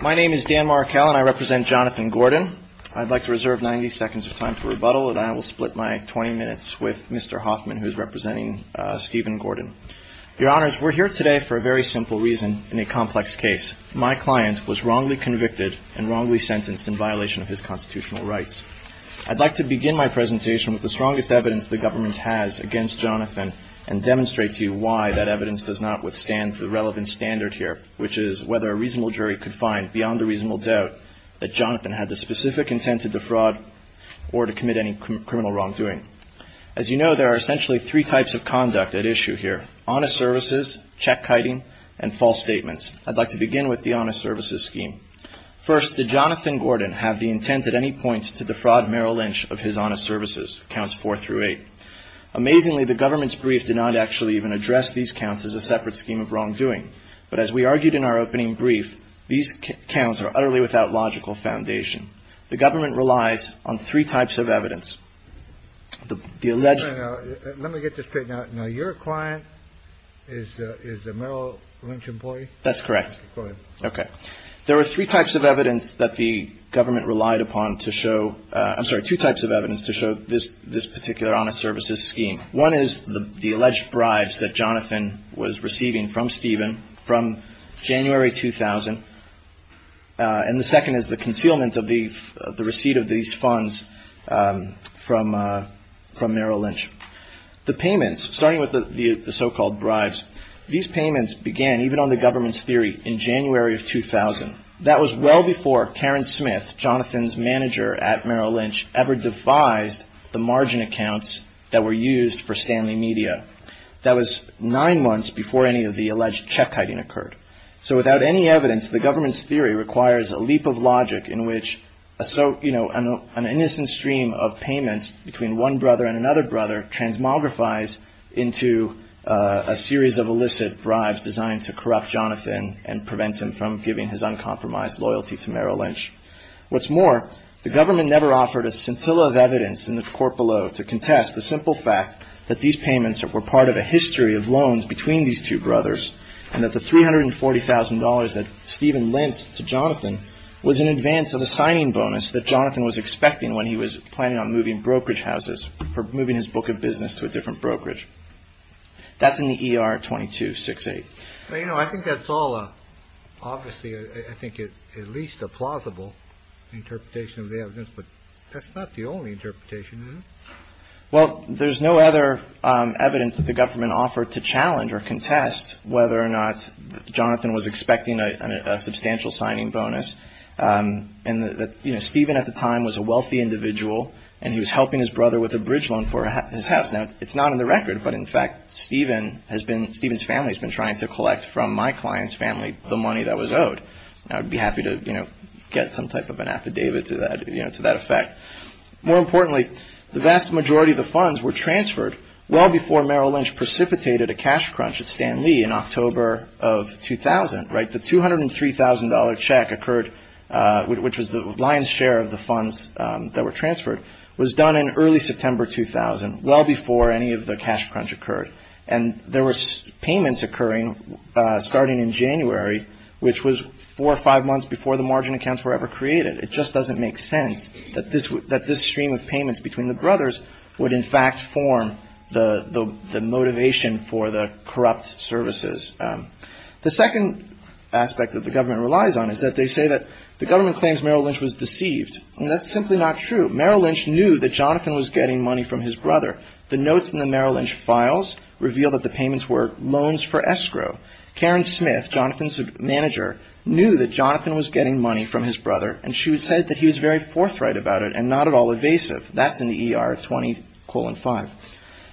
My name is Dan Markell and I represent Jonathan Gordon. I'd like to reserve 90 seconds of time for rebuttal and I will split my 20 minutes with Mr. Hoffman, who is representing Stephen Gordon. Your Honors, we're here today for a very simple reason in a complex case. My client was wrongly convicted and wrongly sentenced in violation of his constitutional rights. I'd like to begin my presentation with the strongest evidence the government has against Jonathan and demonstrate to you why that evidence does not withstand the relevant standard here, which is whether a reasonable jury could find, beyond a reasonable doubt, that Jonathan had the specific intent to defraud or to commit any criminal wrongdoing. As you know, there are essentially three types of conduct at issue here. Honest services, check-kiting, and false statements. I'd like to begin with the honest services scheme. First, did Jonathan Gordon have the intent at any point to defraud Merrill Lynch of his honest services, counts 4 through 8? Amazingly, the government's brief did not actually even point. But as we argued in our opening brief, these counts are utterly without logical foundation. The government relies on three types of evidence. The alleged – Wait a minute. Let me get this straight. Now, your client is the Merrill Lynch employee? That's correct. Go ahead. Okay. There were three types of evidence that the government relied upon to show – I'm sorry, two types of evidence to show this particular honest services scheme. One is the alleged bribes that Jonathan was receiving from Stephen from January 2000. And the second is the concealment of the receipt of these funds from Merrill Lynch. The payments, starting with the so-called bribes, these payments began even on the government's theory in January of 2000. That was well before Karen Smith, Jonathan's manager at Merrill accounts that were used for Stanley Media. That was nine months before any of the alleged check hiding occurred. So without any evidence, the government's theory requires a leap of logic in which an innocent stream of payments between one brother and another brother transmogrifies into a series of illicit bribes designed to corrupt Jonathan and prevent him from giving his uncompromised loyalty to Merrill Lynch. What's more, the government never offered a scintilla of evidence in the court below to contest the simple fact that these payments were part of a history of loans between these two brothers and that the $340,000 that Stephen lent to Jonathan was in advance of a signing bonus that Jonathan was expecting when he was planning on moving brokerage houses for moving his book of business to a different brokerage. That's in the ER 2268. Well, you know, I think that's all obviously, I think, at least a plausible interpretation of the evidence. But that's not the only interpretation. Well, there's no other evidence that the government offered to challenge or contest whether or not Jonathan was expecting a substantial signing bonus and that Stephen at the time was a wealthy individual and he was helping his brother with a bridge loan for his house. Now, it's from my client's family, the money that was owed. Now, I'd be happy to, you know, get some type of an affidavit to that, you know, to that effect. More importantly, the vast majority of the funds were transferred well before Merrill Lynch precipitated a cash crunch at Stan Lee in October of 2000, right? The $203,000 check occurred, which was the lion's share of the funds that were transferred, was done in early September 2000, well before any of the cash crunch occurred. And there were payments occurring starting in January, which was four or five months before the margin accounts were ever created. It just doesn't make sense that this stream of payments between the brothers would, in fact, form the motivation for the corrupt services. The second aspect that the government relies on is that they say that the government claims Merrill Lynch was deceived. That's simply not true. Merrill Lynch knew that Jonathan was getting money from his brother. Merrill Lynch's files reveal that the payments were loans for escrow. Karen Smith, Jonathan's manager, knew that Jonathan was getting money from his brother and she said that he was very forthright about it and not at all evasive. That's in the ER 20 colon 5.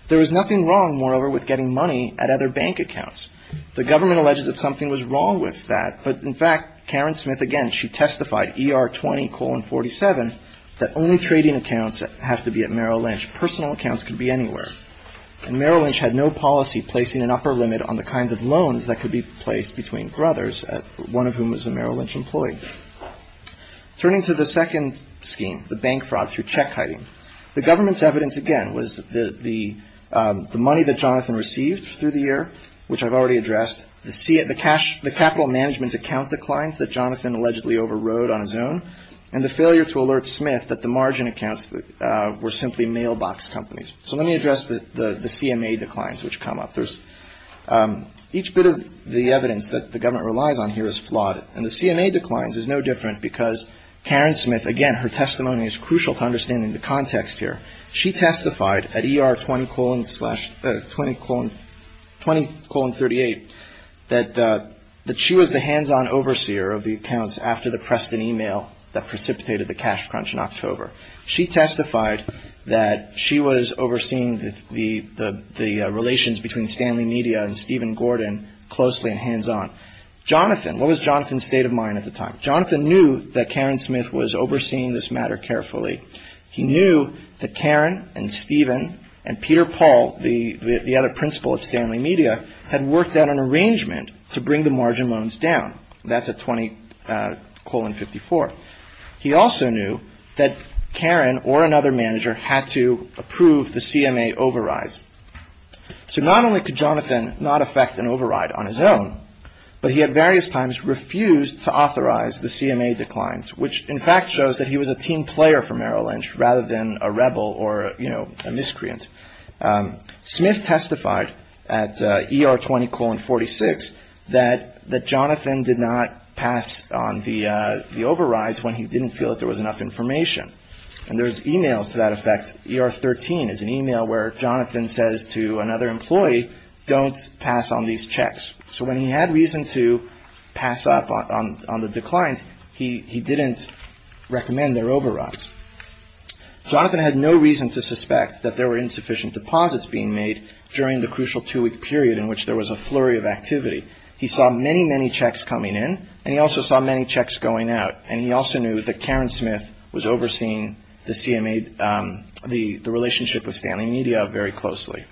There was nothing wrong, moreover, with getting money at other bank accounts. The government alleges that something was wrong with that. But in fact, Karen Smith, again, she testified, ER 20 colon 47, that only trading accounts have to be at Merrill Lynch. Personal accounts could be anywhere and Merrill Lynch had no policy placing an upper limit on the kinds of loans that could be placed between brothers, one of whom was a Merrill Lynch employee. Turning to the second scheme, the bank fraud through check hiding, the government's evidence, again, was that the money that Jonathan received through the year, which I've already addressed, the capital management account declines that Jonathan allegedly overrode on his own and the failure to alert Smith that the margin accounts were simply mailbox companies. So let me address the CMA declines which come up. Each bit of the evidence that the government relies on here is flawed and the CMA declines is no different because Karen Smith, again, her testimony is crucial to understanding the context here. She testified at ER 20 colon 38 that she was the hands-on overseer of the accounts after the Preston email that precipitated the cash crunch in October. She testified that she was overseeing the relations between Stanley Media and Stephen Gordon closely and hands-on. Jonathan, what was Jonathan's state of mind at the time? Jonathan knew that Karen Smith was overseeing this matter carefully. He knew that Karen and Stephen and Peter Paul, the other principal at Stanley Media, had worked out an arrangement to bring the margin loans down. That's at 20 colon 54. He also knew that Karen or another manager had to approve the CMA overrides. So not only could Jonathan not affect an override on his own, but he had various times refused to authorize the CMA declines, which in fact shows that he was a team player for Merrill Lynch rather than a rebel or a miscreant. Smith testified at ER 20 colon 46 that Jonathan did not pass on the overrides when he didn't feel that there was enough information. And there's emails to that effect. ER 13 is an email where Jonathan says to another employee, don't pass on these checks. So when he had reason to pass up on the declines, he didn't recommend their overrides. Jonathan had no reason to suspect that there were insufficient deposits being made during the crucial two week period in which there was a flurry of activity. He saw many, many checks coming in and he also saw many checks going out. And he also knew that Karen Smith was overseeing the CMA, the relationship with Stanley Media very closely.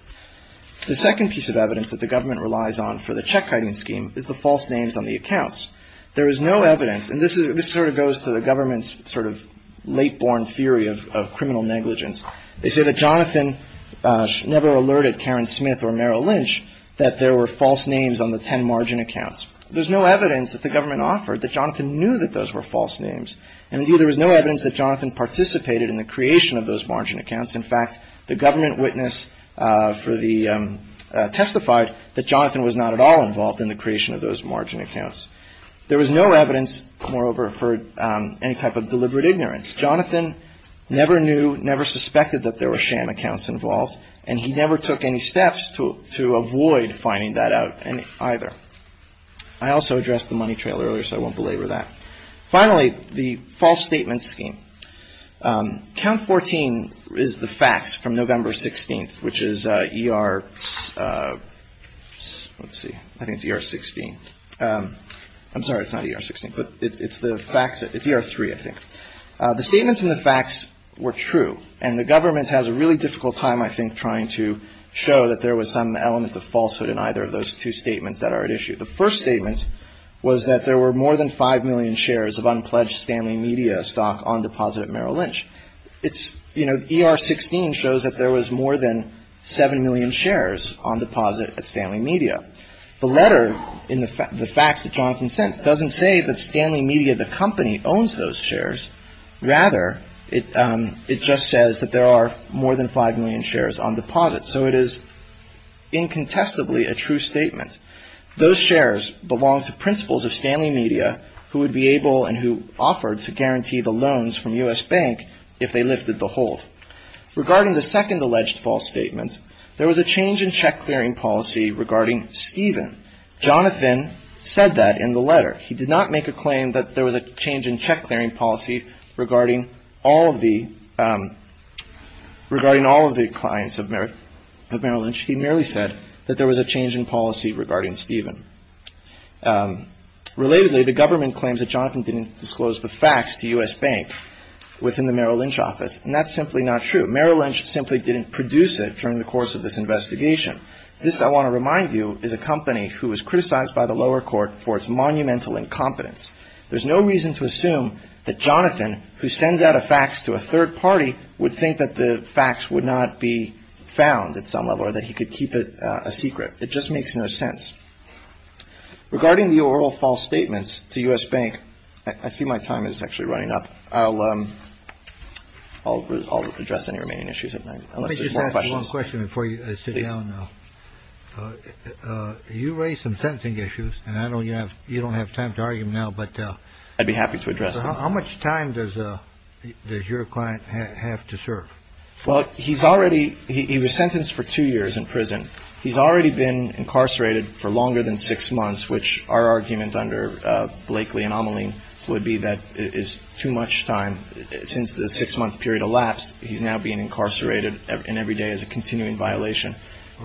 The second piece of evidence that the government relies on for the check writing scheme is the false names on the accounts. There is no evidence and this is this sort of goes to the government's sort of late born theory of criminal negligence. They say that Jonathan never alerted Karen Smith or Merrill Lynch that there were false names on the 10 margin accounts. There's no evidence that the government offered that Jonathan knew that those were false names. And there was no evidence that Jonathan participated in the creation of those margin accounts. In fact, the government witness for the testified that Jonathan was not at all involved in the creation of those margin accounts. There was no evidence, moreover, for any type of deliberate ignorance. Jonathan never knew, never suspected that there were sham accounts involved, and he never took any steps to avoid finding that out either. I also addressed the money trailer earlier, so I won't belabor that. Finally, the false statement scheme. Count 14 is the facts from November 16th, which is ER, let's see, I think it's ER 16. I'm sorry, it's not ER 16, but it's the facts. It's ER 3, I think. The statements and the facts were true, and the government has a really difficult time, I think, trying to show that there was some element of falsehood in either of those two statements that are at issue. The first statement was that there were more than 5 million shares of unpledged Stanley Media stock on deposit at Merrill Lynch. It's, you know, ER 16 shows that there was more than 7 million shares on deposit at Merrill Lynch. The facts that Jonathan sent doesn't say that Stanley Media, the company, owns those shares. Rather, it just says that there are more than 5 million shares on deposit. So it is incontestably a true statement. Those shares belong to principals of Stanley Media who would be able and who offered to guarantee the loans from U.S. Bank if they lifted the hold. Regarding the second alleged false statement, there was a change in check clearing policy regarding Stephen. Jonathan said that in the letter. He did not make a claim that there was a change in check clearing policy regarding all of the regarding all of the clients of Merrill Lynch. He merely said that there was a change in policy regarding Stephen. Relatedly, the government claims that Jonathan didn't disclose the facts to U.S. Bank within the Merrill Lynch office, and that's simply not true. Merrill Lynch simply didn't produce it during the course of this investigation. This, I want to remind you, is a company who was criticized by the lower court for its monumental incompetence. There's no reason to assume that Jonathan, who sends out a fax to a third party, would think that the facts would not be found at some level or that he could keep it a secret. It just makes no sense. Regarding the oral false statements to U.S. Bank, I see my time is actually running up. I'll address any remaining issues if there's more questions. One question before you sit down. You raised some sentencing issues and I know you have you don't have time to argue now, but I'd be happy to address. How much time does your client have to serve? Well, he's already he was sentenced for two years in prison. He's already been incarcerated for longer than six months, which are arguments under Blakely anomaly would be that is too much time since the six month period elapsed. He's now being incarcerated in every day as a continuing violation.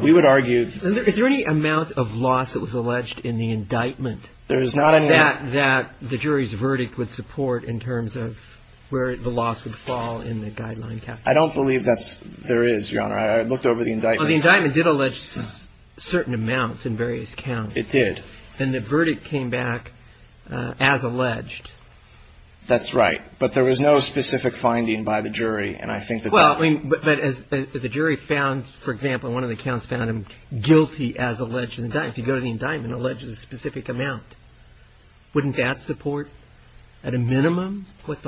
We would argue. Is there any amount of loss that was alleged in the indictment? There is not that that the jury's verdict would support in terms of where the loss would fall in the guideline. I don't believe that's there is your honor. I looked over the indictment. The indictment did allege certain amounts in various counts. It did. And the verdict came back as alleged. That's right. But there was no specific finding by the jury. And I think that well, I mean, but as the jury found, for example, one of the counts found him guilty as alleged that if you go to the indictment alleges a specific amount. Wouldn't that support at a minimum what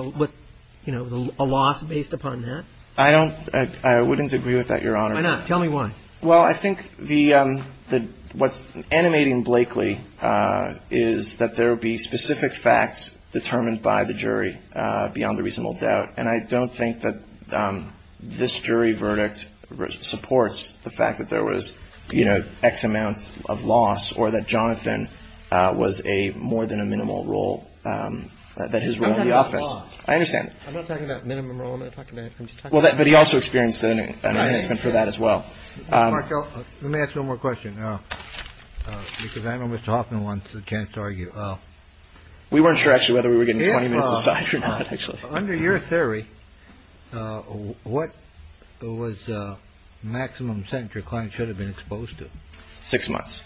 you know, a loss based upon that? I don't I wouldn't agree with that, your honor. Tell me why. Well, I think the what's animating Blakely is that there would be specific facts determined by the jury beyond a reasonable doubt. And I don't think that this jury verdict supports the fact that there was, you know, X amounts of loss or that Jonathan was a more than a minimal role that his role in the office. I understand. I'm not talking about minimum role. I'm not talking about. Well, that but he also experienced that for that as well. I don't let me ask you one more question because I know Mr. Hoffman wants a chance to argue. Well, we weren't sure actually whether we were getting inside or not, actually. Under your theory, what was the maximum sentence your client should have been exposed to? Six months.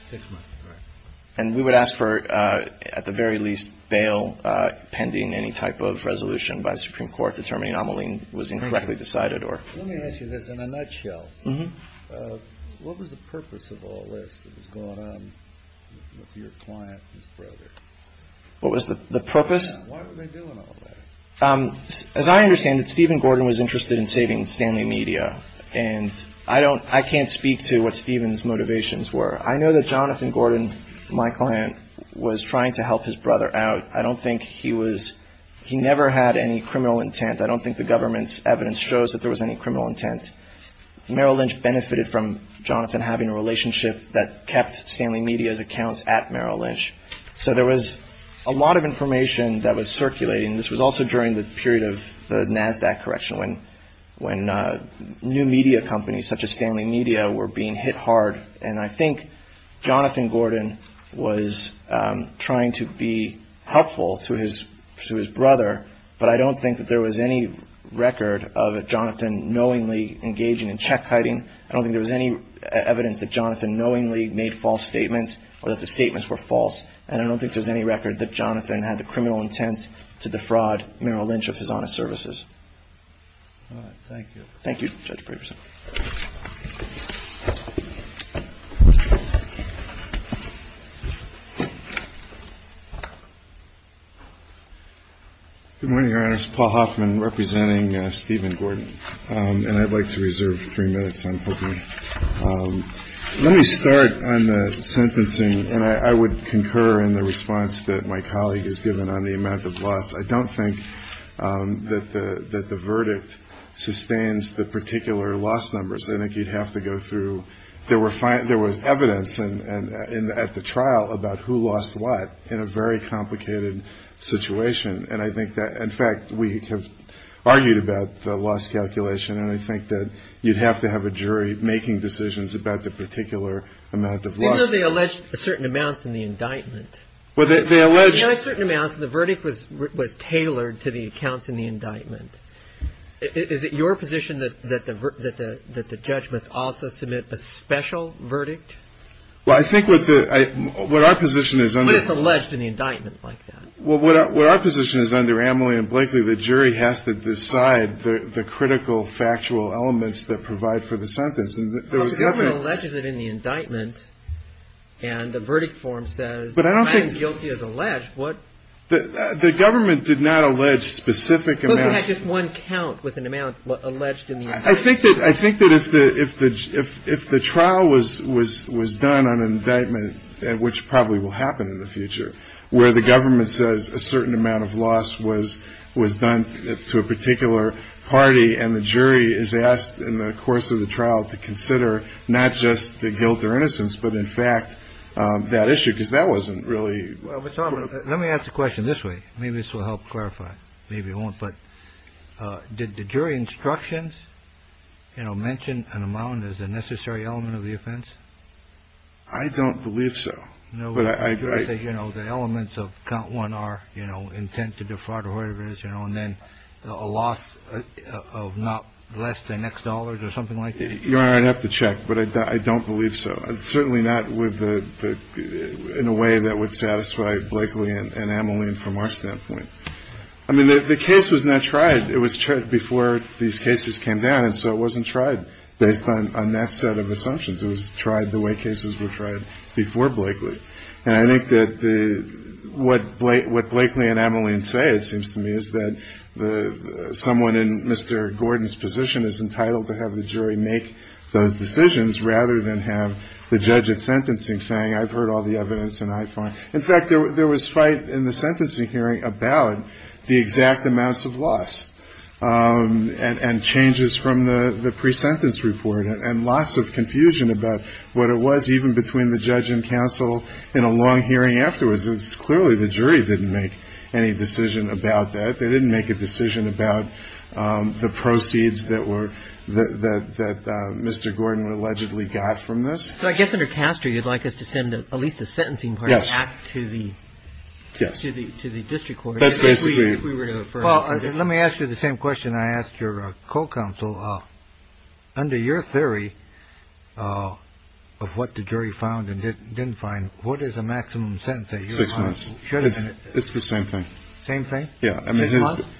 And we would ask for, at the very least, bail pending any type of resolution by the Supreme Court determining Amaline was incorrectly decided or. Let me ask you this in a nutshell. What was the purpose of all this that was going on with your client, his brother? What was the purpose? Why were they doing all that? As I understand it, Stephen Gordon was interested in saving Stanley Media. And I don't I can't speak to what Stephen's motivations were. I know that Jonathan Gordon, my client, was trying to help his brother out. I don't think he was. He never had any criminal intent. I don't think the government's evidence shows that there was any criminal intent. Merrill Lynch benefited from Jonathan having a relationship that kept Stanley Media's accounts at Merrill Lynch. So there was a lot of information that was circulating. This was also during the period of the NASDAQ correction when when new media companies such as Stanley Media were being hit hard. And I think Jonathan Gordon was trying to be helpful to his to his brother. But I don't think that there was any record of Jonathan knowingly engaging in check hiding. I don't think there was any evidence that Jonathan knowingly made false statements or that the statements were false. And I don't think there's any record that Jonathan had the criminal intent to defraud Merrill Lynch of his honest services. Thank you. Thank you, Judge Braveson. Good morning, Your Honors. Paul Hoffman representing Stephen Gordon. And I'd like to reserve three minutes. Let me start on the sentencing. And I would concur in the response that my colleague has given on the amount of loss. I don't think that the that the verdict sustains the particular loss numbers. I think you'd have to go through. There were five. There was evidence and at the trial about who lost what in a very complicated situation. And I think that, in fact, we have argued about the loss calculation. And I think that you'd have to have a jury making decisions about the particular amount of the alleged certain amounts in the indictment. Well, they allege certain amounts. The verdict was was tailored to the accounts in the indictment. Is it your position that that the that the that the judge must also submit a special verdict? Well, I think with what our position is alleged in the indictment like that. What our position is under Emily and Blakely, the jury has to decide the critical factual elements that provide for the sentence. And there was nothing that is it in the indictment. And the verdict form says, but I don't think guilty as alleged what the government did not allege specific. And that's just one count with an amount alleged. I think that I think that if the if the if the trial was was was done on an indictment and which probably will happen in the future, where the government says a certain amount of loss was was done to a particular party. And the jury is asked in the course of the trial to consider not just the guilt or innocence, but in fact, that issue, because that wasn't really. Let me ask the question this way. Maybe this will help clarify. Maybe it won't. But did the jury instructions, you know, mention an amount as a necessary element of the offense? I don't believe so. No, but I think, you know, the elements of count one are, you know, intent to defraud or whatever it is, you know, and then a loss of not less than next dollars or something like that. You are. I'd have to check. But I don't believe so. I'm certainly not with the in a way that would satisfy Blakely and Emily. And from our standpoint, I mean, the case was not tried. It was before these cases came down. And so it wasn't tried based on that set of assumptions. It was tried the way cases were tried before Blakely. And I think that the what Blakely and Emily and say, it seems to me, is that the someone in Mr. Gordon's position is entitled to have the jury make those decisions rather than have the judge at sentencing saying, I've heard all the evidence and I find. In fact, there was fight in the sentencing hearing about the exact amounts of loss and changes from the pre-sentence report and lots of confusion. But what it was even between the judge and counsel in a long hearing afterwards is clearly the jury didn't make any decision about that. They didn't make a decision about the proceeds that were that Mr. Gordon allegedly got from this. So I guess under Castor, you'd like us to send at least a sentencing to the to the to the district court. That's basically. Well, let me ask you the same question. And I asked your co-counsel under your theory of what the jury found and didn't find. What is a maximum sentence? Six months. It's the same thing. Same thing. Yeah. I mean,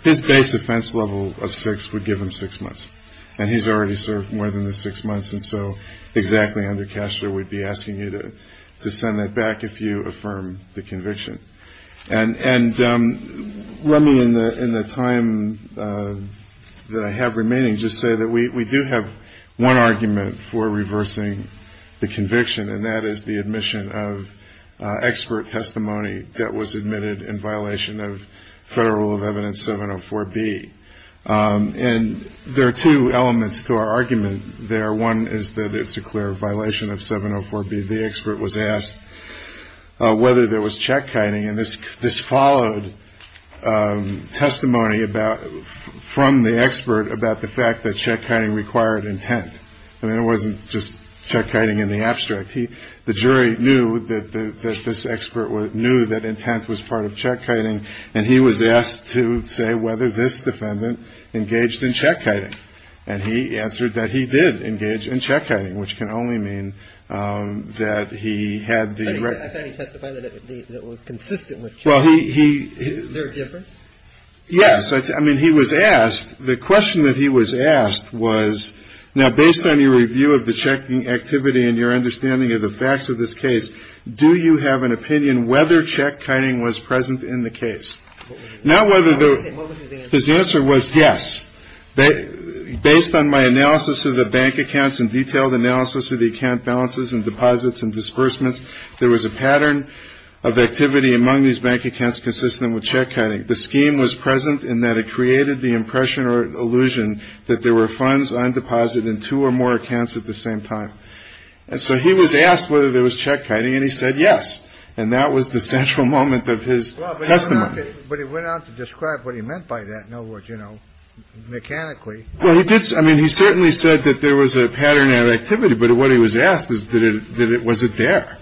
his base offense level of six would give him six months and he's already served more than the six months. And so exactly under cash, there would be asking you to send that back if you affirm the conviction. And and let me in the in the time that I have remaining, just say that we do have one argument for reversing the conviction, and that is the admission of expert testimony that was admitted in violation of federal rule of evidence 704 B. And there are two elements to our argument there. One is that it's a clear violation of 704 B. The expert was asked whether there was check writing in this. This followed testimony about from the expert about the fact that check writing required intent. And it wasn't just check writing in the abstract. He. The jury knew that this expert knew that intent was part of check writing. And he was asked to say whether this defendant engaged in check writing. And he answered that he did engage in check writing, which can only mean that he had the right to testify that it was consistent with. Well, he is very different. Yes. I mean, he was asked the question that he was asked was, now, based on your review of the checking activity and your understanding of the facts of this case, do you have an opinion whether check writing was present in the case? Now, whether his answer was yes, based on my analysis of the bank accounts and detailed analysis of the account balances and deposits and disbursements, there was a pattern of activity among these bank accounts consistent with check cutting. The scheme was present in that it created the impression or illusion that there were funds on deposit in two or more accounts at the same time. And so he was asked whether there was check writing. And he said yes. And that was the central moment of his testimony. But he went on to describe what he meant by that. In other words, you know, mechanically. Well, he did. I mean, he certainly said that there was a pattern of activity. But what he was asked is that it was it there.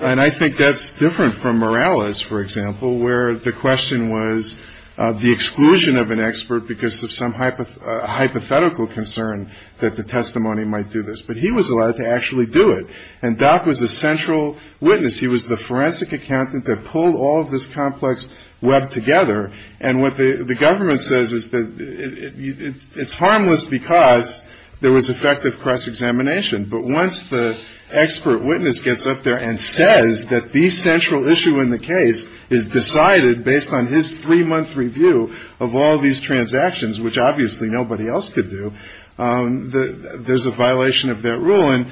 And I think that's different from Morales, for example, where the question was the exclusion of an expert because of some hypothetical concern that the testimony might do this. But he was allowed to actually do it. And Doc was a central witness. He was the forensic accountant that pulled all of this complex web together. And what the government says is that it's harmless because there was effective cross-examination. But once the expert witness gets up there and says that the central issue in the case is decided based on his three month review of all these transactions, which obviously nobody else could do, there's a violation of that rule. And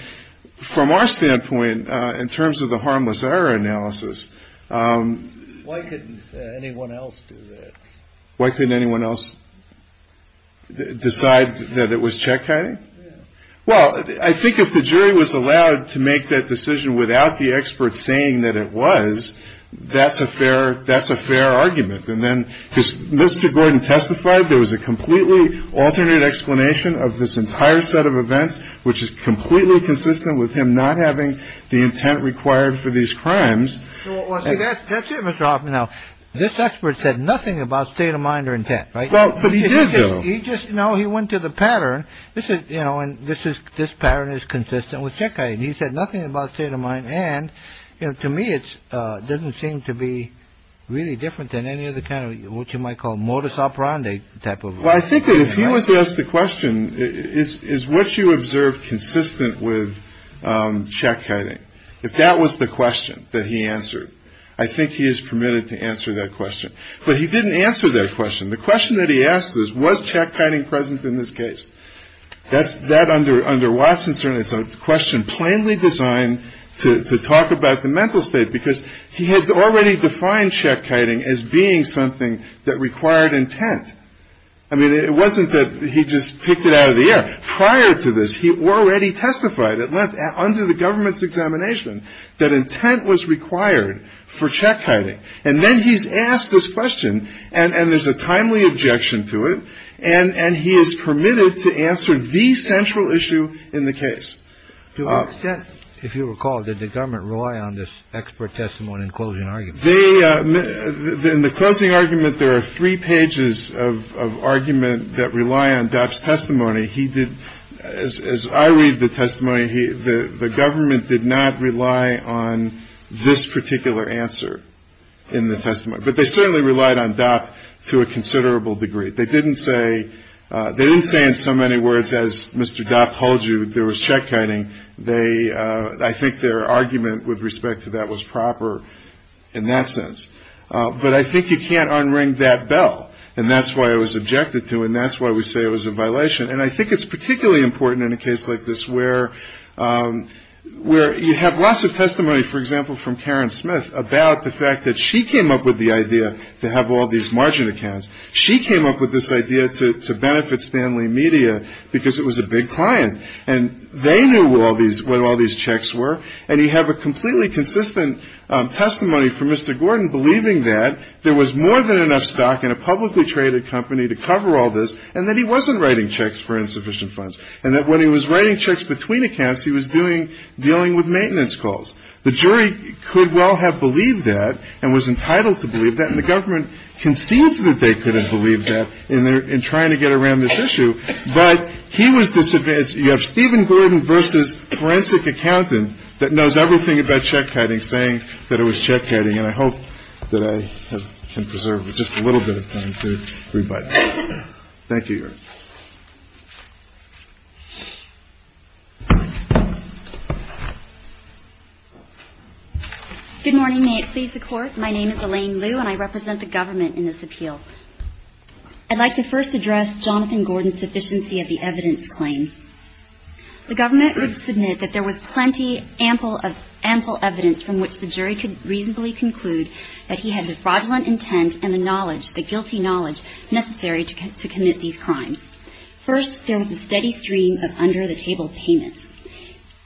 from our standpoint, in terms of the harmless error analysis, why couldn't anyone else do that? Why couldn't anyone else decide that it was check? Well, I think if the jury was allowed to make that decision without the expert saying that it was, that's a fair that's a fair argument. And then Mr. Gordon testified there was a completely alternate explanation of this entire set of events, which is completely consistent with him not having the intent required for these crimes. So that's it. Mr. Hoffman. Now, this expert said nothing about state of mind or intent. Right. But he did. He just. No, he went to the pattern. This is you know, and this is this pattern is consistent with check. And he said nothing about state of mind. And to me, it doesn't seem to be really different than any of the kind of what you might call modus operandi type of. Well, I think that if he was asked the question is, is what you observed consistent with check cutting? If that was the question that he answered, I think he is permitted to answer that question. But he didn't answer that question. The question that he asked is, was check cutting present in this case? That's that under under Watson's. And it's a question plainly designed to talk about the mental state, because he had already defined check cutting as being something that required intent. I mean, it wasn't that he just picked it out of the air prior to this. He already testified it left under the government's examination that intent was required for check cutting. And then he's asked this question. And there's a timely objection to it. And he is permitted to answer the central issue in the case. To what extent, if you recall, did the government rely on this expert testimony and closing argument? They in the closing argument, there are three pages of argument that rely on Dobbs testimony. He did. As I read the testimony, the government did not rely on this particular answer in the testimony. But they certainly relied on that to a considerable degree. They didn't say they didn't say in so many words, as Mr. Dobbs told you, there was check cutting. They I think their argument with respect to that was proper in that sense. But I think you can't unring that bell. And that's why it was objected to. And that's why we say it was a violation. And I think it's particularly important in a case like this where where you have lots of testimony, for example, from Karen Smith about the fact that she came up with the idea to have all these margin accounts. She came up with this idea to benefit Stanley Media because it was a big client. And they knew all these what all these checks were. And you have a completely consistent testimony for Mr. Gordon believing that there was more than enough stock in a publicly traded company to cover all this. And that he wasn't writing checks for insufficient funds. And that when he was writing checks between accounts, he was doing dealing with maintenance calls. The jury could well have believed that and was entitled to believe that. And the government concedes that they could have believed that in their in trying to get around this issue. But he was disadvantaged. You have Stephen Gordon versus forensic accountant that knows everything about check cutting, saying that it was check cutting. And I hope that I can preserve just a little bit of time to rebut. Thank you. Good morning. May it please the Court. My name is Elaine Liu and I represent the government in this appeal. I'd like to first address Jonathan Gordon's sufficiency of the evidence claim. The government would submit that there was plenty ample of ample evidence from which the jury could reasonably conclude that he had the fraudulent intent and the knowledge, the guilty knowledge necessary to commit these crimes. First, there was a steady stream of under-the-table payments,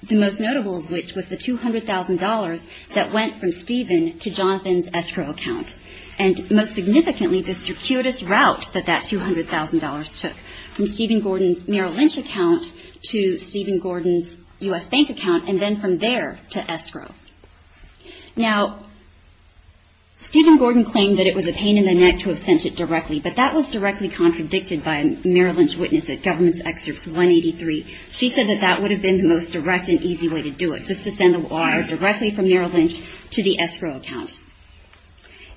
the most notable of which was the $200,000 that went from Stephen to Jonathan's escrow account. And most significantly, the circuitous route that that $200,000 took from Stephen Gordon's Merrill Lynch account to Stephen Gordon's U.S. Bank account and then from there to escrow. Now, Stephen Gordon claimed that it was a pain in the neck to have sent it directly, but that was directly contradicted by Merrill Lynch's witness at Government's Excerpts 183. She said that that would have been the most direct and easy way to do it, just to send the wire directly from Merrill Lynch to the escrow account.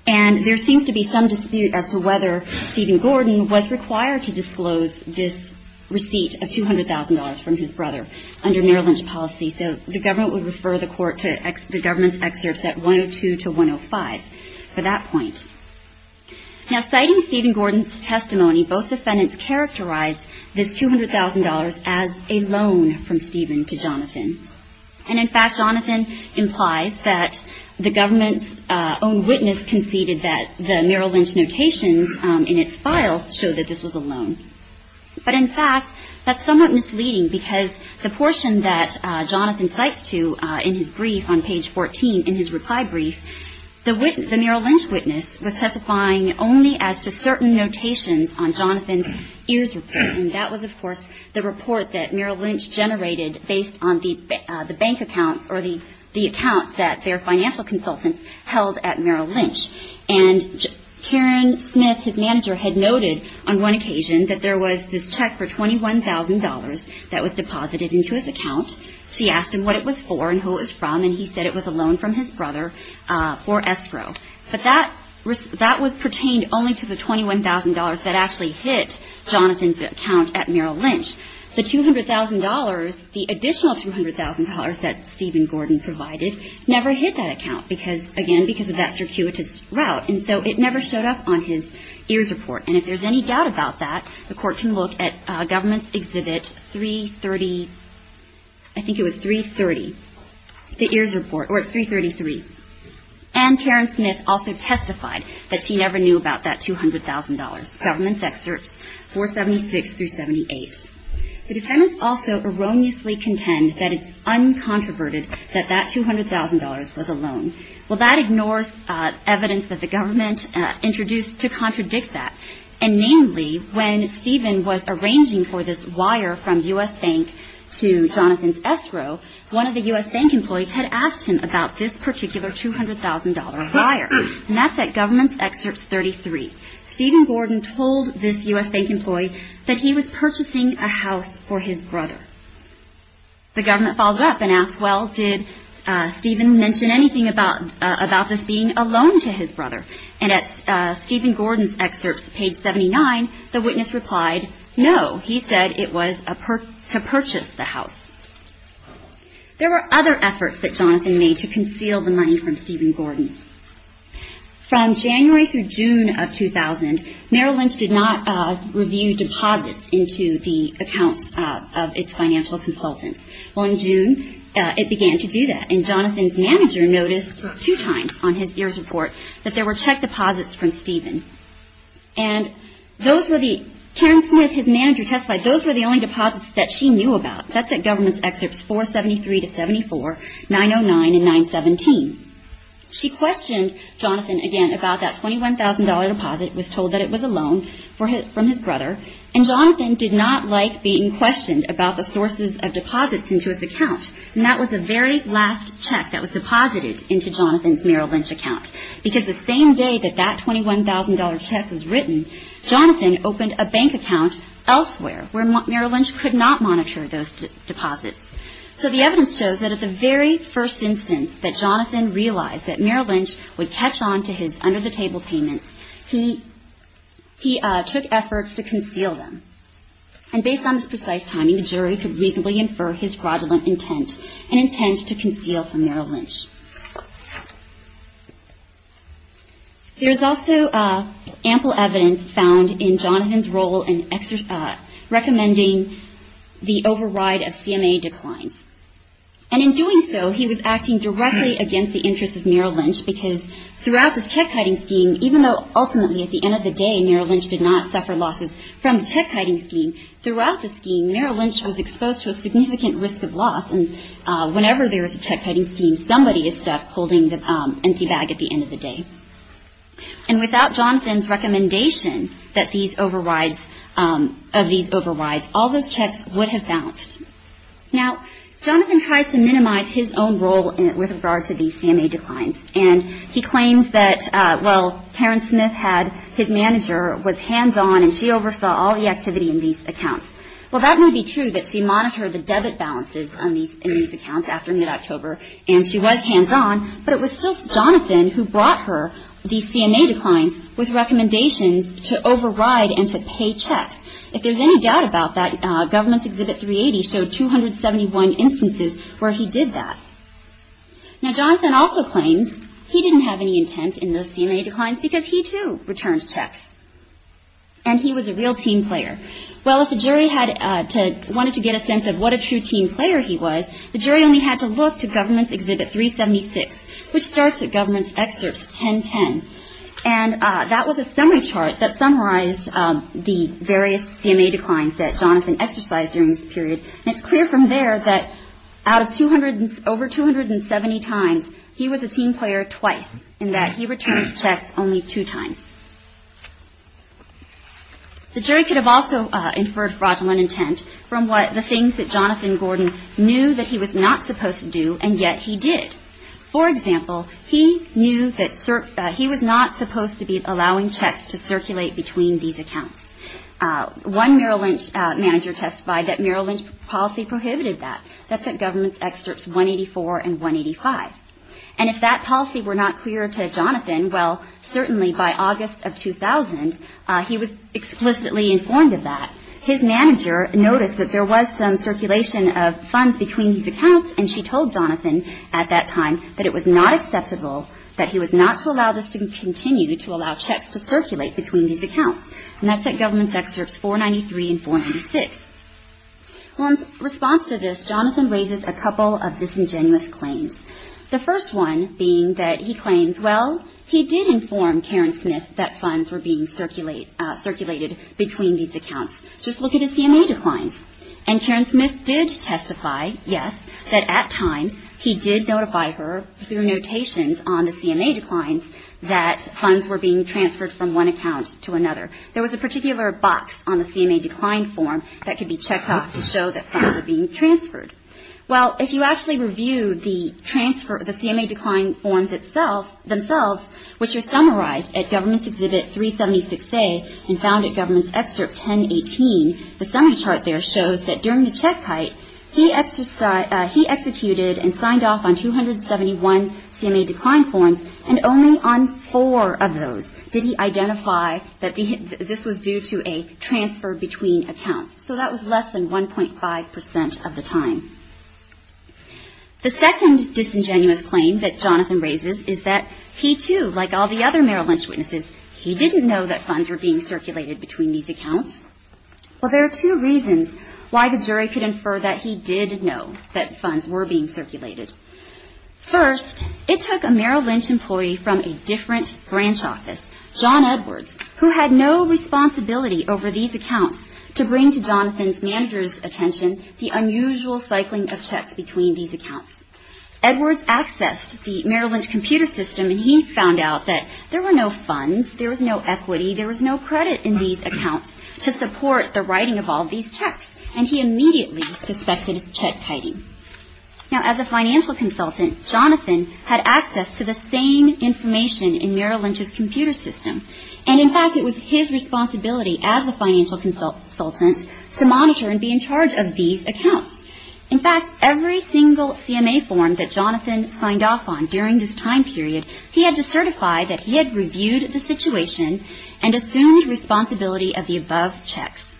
And there seems to be some dispute as to whether Stephen Gordon was required to disclose this receipt of $200,000 from his brother under Merrill Lynch policy. So the government would refer the court to the Government's Excerpts at 102 to 105 for that point. Now, citing Stephen Gordon's testimony, both defendants characterized this $200,000 as a loan from Stephen to Jonathan. And, in fact, Jonathan implies that the government's own witness conceded that the Merrill Lynch notations in its files show that this was a loan. But, in fact, that's somewhat misleading because the portion that Jonathan cites to in his brief on page 14 in his reply brief, the Merrill Lynch witness was testifying only as to certain notations on Jonathan's EARS report. And that was, of course, the report that Merrill Lynch generated based on the bank accounts or the accounts that their financial consultants held at Merrill Lynch. And Karen Smith, his manager, had noted on one occasion that there was this check for $21,000 that was deposited into his account. She asked him what it was for and who it was from, and he said it was a loan from his brother for escrow. But that was pertained only to the $21,000 that actually hit Jonathan's account at Merrill Lynch. The $200,000, the additional $200,000 that Stephen Gordon provided never hit that account because, again, because of that circuitous route. And so it never showed up on his EARS report. And if there's any doubt about that, the Court can look at Government's Exhibit 330, I think it was 330, the EARS report, or it's 333. And Karen Smith also testified that she never knew about that $200,000, Government's Excerpts 476 through 78. The defendants also erroneously contend that it's uncontroverted that that $200,000 was a loan. Well, that ignores evidence that the government introduced to contradict that. And namely, when Stephen was arranging for this wire from U.S. Bank to Jonathan's escrow, one of the U.S. Bank employees had asked him about this particular $200,000 wire. And that's at Government's Excerpts 33. Stephen Gordon told this U.S. Bank employee that he was purchasing a house for his brother. The government followed up and asked, well, did Stephen mention anything about this being a loan to his brother? And at Stephen Gordon's excerpts, page 79, the witness replied, no. He said it was to purchase the house. There were other efforts that Jonathan made to conceal the money from Stephen Gordon. From January through June of 2000, Merrill Lynch did not review deposits into the accounts of its financial consultants. Well, in June, it began to do that. And Jonathan's manager noticed two times on his year's report that there were check deposits from Stephen. And those were the ‑‑ Karen Smith, his manager, testified those were the only deposits that she knew about. That's at Government's Excerpts 473 to 74, 909 and 917. She questioned Jonathan again about that $21,000 deposit, was told that it was a loan from his brother. And Jonathan did not like being questioned about the sources of deposits into his account. And that was the very last check that was deposited into Jonathan's Merrill Lynch account. Because the same day that that $21,000 check was written, Jonathan opened a bank account elsewhere where Merrill Lynch could not monitor those deposits. So the evidence shows that at the very first instance that Jonathan realized that Merrill Lynch would catch on to his under the table payments, he took efforts to conceal them. And based on this precise timing, the jury could reasonably infer his fraudulent intent, an intent to conceal from Merrill Lynch. There's also ample evidence found in Jonathan's role in recommending the override of CMA declines. And in doing so, he was acting directly against the interests of Merrill Lynch, because throughout this check-kiting scheme, even though ultimately at the end of the day Merrill Lynch did not suffer losses from the check-kiting scheme, throughout the scheme Merrill Lynch was exposed to a significant risk of loss. And whenever there is a check-kiting scheme, somebody is stuck holding the empty bag at the end of the day. And without Jonathan's recommendation of these overrides, all those checks would have bounced. Now, Jonathan tries to minimize his own role with regard to these CMA declines. And he claims that, well, Karen Smith had his manager was hands-on and she oversaw all the activity in these accounts. Well, that may be true that she monitored the debit balances in these accounts after mid-October and she was hands-on, but it was still Jonathan who brought her these CMA declines with recommendations to override and to pay checks. If there's any doubt about that, Government's Exhibit 380 showed 271 instances where he did that. Now, Jonathan also claims he didn't have any intent in those CMA declines because he, too, returned checks. And he was a real team player. Well, if the jury wanted to get a sense of what a true team player he was, the jury only had to look to Government's Exhibit 376, which starts at Government's Excerpts 1010. And that was a summary chart that summarized the various CMA declines that Jonathan exercised during this period. And it's clear from there that out of over 270 times, he was a team player twice in that he returned checks only two times. The jury could have also inferred fraudulent intent from the things that Jonathan Gordon knew that he was not supposed to do, and yet he did. For example, he knew that he was not supposed to be allowing checks to circulate between these accounts. One Merrill Lynch manager testified that Merrill Lynch policy prohibited that. That's at Government's Excerpts 184 and 185. And if that policy were not clear to Jonathan, well, certainly by August of 2000, he was explicitly informed of that. His manager noticed that there was some circulation of funds between these accounts, and she told Jonathan at that time that it was not acceptable, that he was not to allow this to continue to allow checks to circulate between these accounts. And that's at Government's Excerpts 493 and 496. Well, in response to this, Jonathan raises a couple of disingenuous claims. The first one being that he claims, well, he did inform Karen Smith that funds were being circulated between these accounts. Just look at the CMA declines. And Karen Smith did testify, yes, that at times he did notify her through notations on the CMA declines that funds were being transferred from one account to another. There was a particular box on the CMA decline form that could be checked off to show that funds were being transferred. Well, if you actually review the transfer, the CMA decline forms themselves, which are summarized at Government's Exhibit 376A and found at Government's Excerpt 1018, the summary chart there shows that during the check height, he executed and signed off on 271 CMA decline forms, and only on four of those did he identify that this was due to a transfer between accounts. So that was less than 1.5 percent of the time. The second disingenuous claim that Jonathan raises is that he, too, like all the other Merrill Lynch witnesses, he didn't know that funds were being circulated between these accounts. Well, there are two reasons why the jury could infer that he did know that funds were being circulated. First, it took a Merrill Lynch employee from a different branch office, John Edwards, who had no responsibility over these accounts to bring to Jonathan's manager's attention the unusual cycling of checks between these accounts. Edwards accessed the Merrill Lynch computer system, and he found out that there were no funds, there was no equity, there was no credit in these accounts to support the writing of all these checks, and he immediately suspected check-kiting. Now, as a financial consultant, Jonathan had access to the same information in Merrill Lynch's computer system, and, in fact, it was his responsibility as a financial consultant to monitor and be in charge of these accounts. In fact, every single CMA form that Jonathan signed off on during this time period, he had to certify that he had reviewed the situation and assumed responsibility of the above checks.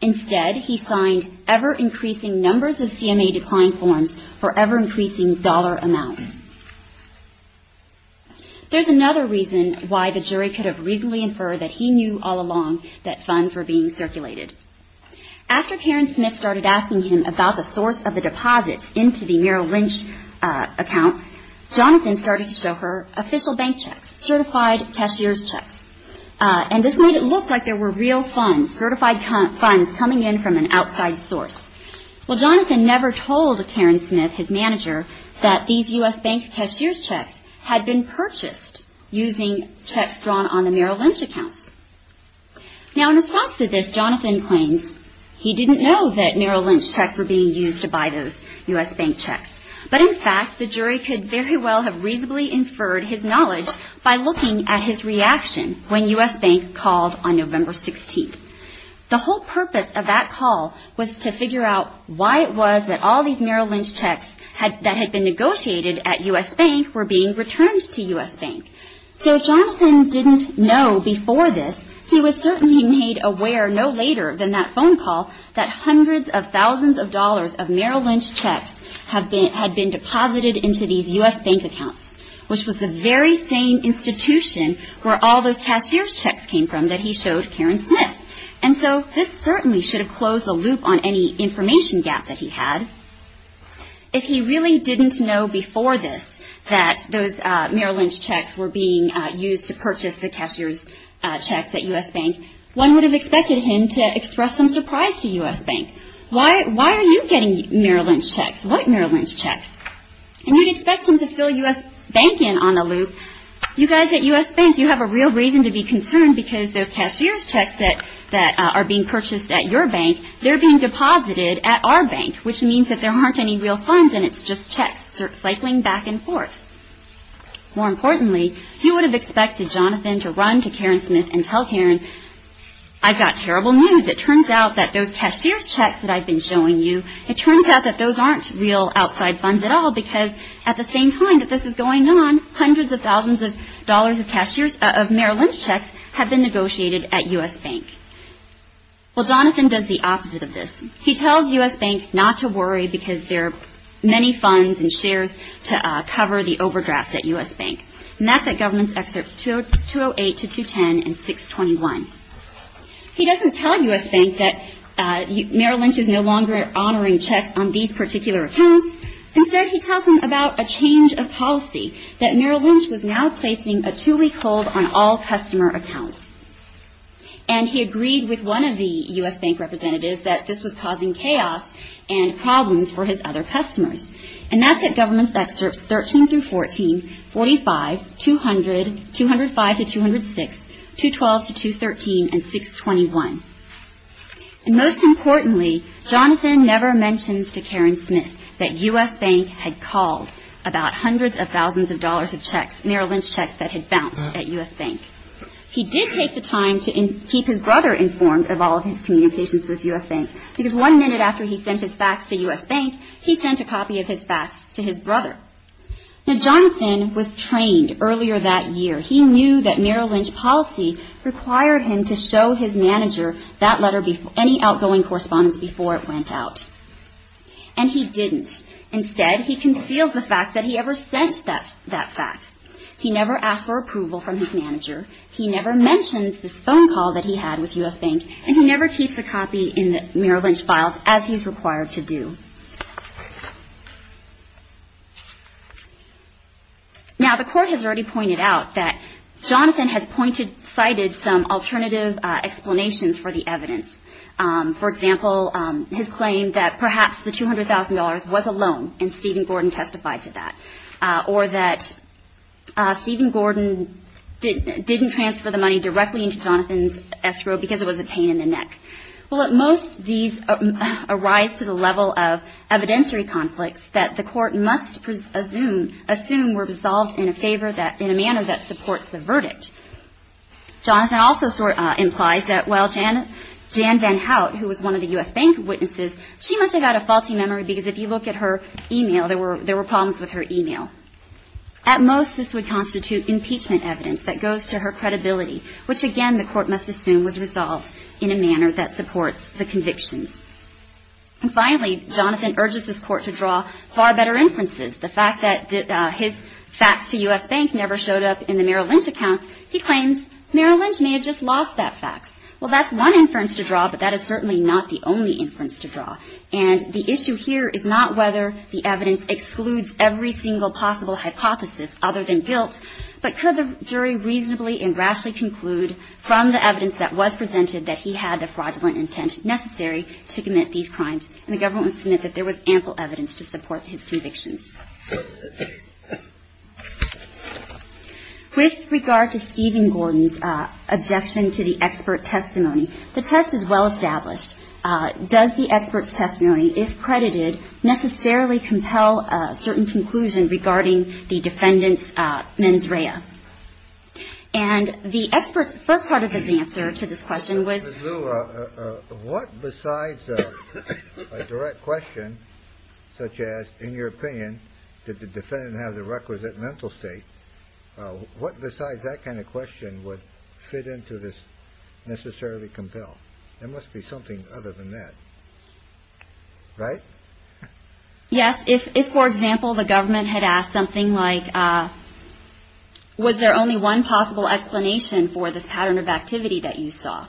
Instead, he signed ever-increasing numbers of CMA decline forms for ever-increasing dollar amounts. There's another reason why the jury could have reasonably inferred that he knew all along that funds were being circulated. After Karen Smith started asking him about the source of the deposits into the Merrill Lynch accounts, Jonathan started to show her official bank checks, certified cashier's checks, and this made it look like there were real funds, certified funds coming in from an outside source. Well, Jonathan never told Karen Smith, his manager, that these U.S. bank cashier's checks had been purchased using checks drawn on the Merrill Lynch accounts. Now, in response to this, Jonathan claims he didn't know that Merrill Lynch checks were being used to buy those U.S. bank checks, but in fact, the jury could very well have reasonably inferred his knowledge by looking at his reaction when U.S. Bank called on November 16th. The whole purpose of that call was to figure out why it was that all these Merrill Lynch checks that had been negotiated at U.S. Bank were being returned to U.S. Bank. So Jonathan didn't know before this. He was certainly made aware no later than that phone call that hundreds of thousands of dollars of Merrill Lynch checks had been deposited into these U.S. Bank accounts, which was the very same institution where all those cashier's checks came from that he showed Karen Smith. And so this certainly should have closed the loop on any information gap that he had. If he really didn't know before this that those Merrill Lynch checks were being used to purchase the cashier's checks that you see here, at U.S. Bank, one would have expected him to express some surprise to U.S. Bank. Why are you getting Merrill Lynch checks? What Merrill Lynch checks? And you'd expect him to fill U.S. Bank in on the loop. You guys at U.S. Bank, you have a real reason to be concerned because those cashier's checks that are being purchased at your bank, they're being deposited at our bank, which means that there aren't any real funds in it. It's just checks cycling back and forth. More importantly, you would have expected Jonathan to run to Karen Smith and tell Karen, I've got terrible news. It turns out that those cashier's checks that I've been showing you, it turns out that those aren't real outside funds at all, because at the same time that this is going on, hundreds of thousands of dollars of Merrill Lynch checks have been negotiated at U.S. Bank. Well, Jonathan does the opposite of this. He tells U.S. Bank not to worry because there are many funds and shares to cover the overdrafts at U.S. Bank. And that's at Governments Excerpts 208 to 210 and 621. He doesn't tell U.S. Bank that Merrill Lynch is no longer honoring checks on these particular accounts. Instead, he tells them about a change of policy, that Merrill Lynch was now placing a two-week hold on all customer accounts. And he agreed with one of the U.S. Bank representatives that this was causing chaos and problems for his other customers. And that's at Governments Excerpts 13 through 14, 45, 200, 205 to 206, 212 to 213, and 621. And most importantly, Jonathan never mentions to Karen Smith that U.S. Bank had called about hundreds of thousands of dollars of checks, Merrill Lynch checks that had bounced at U.S. Bank. He did take the time to keep his brother informed of all of his communications with U.S. Bank, because one minute after he sent his fax to U.S. Bank, he sent a copy of his fax to his brother. Now, Jonathan was trained earlier that year. He knew that Merrill Lynch policy required him to show his manager that letter, any outgoing correspondence before it went out. And he didn't. Instead, he conceals the fact that he ever sent that fax. He never asked for approval from his manager. He never mentions this phone call that he had with U.S. Bank. And he never keeps a copy in Merrill Lynch's files, as he's required to do. Now, the Court has already pointed out that Jonathan has cited some alternative explanations for the evidence. For example, his claim that perhaps the $200,000 was a loan, and Stephen Gordon testified to that. Or that Stephen Gordon didn't transfer the money directly into Jonathan's escrow because it was a pain in the neck. Well, at most, these arise to the level of evidentiary conflicts that the Court must assume were resolved in a manner that supports the verdict. Jonathan also implies that while Jan Van Hout, who was one of the U.S. Bank witnesses, she must have had a faulty memory because if you look at her email, there were problems with her email. At most, this would constitute impeachment evidence that goes to her credibility, which, again, the Court must assume was resolved in a manner that supports the convictions. And finally, Jonathan urges this Court to draw far better inferences. The fact that his facts to U.S. Bank never showed up in the Merrill Lynch accounts, he claims Merrill Lynch may have just lost that facts. Well, that's one inference to draw, but that is certainly not the only inference to draw. And the issue here is not whether the evidence excludes every single possible hypothesis other than guilt, but could the jury reasonably and rashly conclude from the evidence that was presented that he had the fraudulent intent necessary to commit these crimes? And the government would submit that there was ample evidence to support his convictions. With regard to Stephen Gordon's objection to the expert testimony, the test is well-established. Does the expert's testimony, if credited, necessarily compel a certain conclusion regarding the defendant's And the expert's first part of his answer to this question was. What besides a direct question such as, in your opinion, did the defendant have the requisite mental state? What besides that kind of question would fit into this necessarily compel? There must be something other than that, right? Yes. If, for example, the government had asked something like, was there only one possible explanation for this pattern of activity that you saw?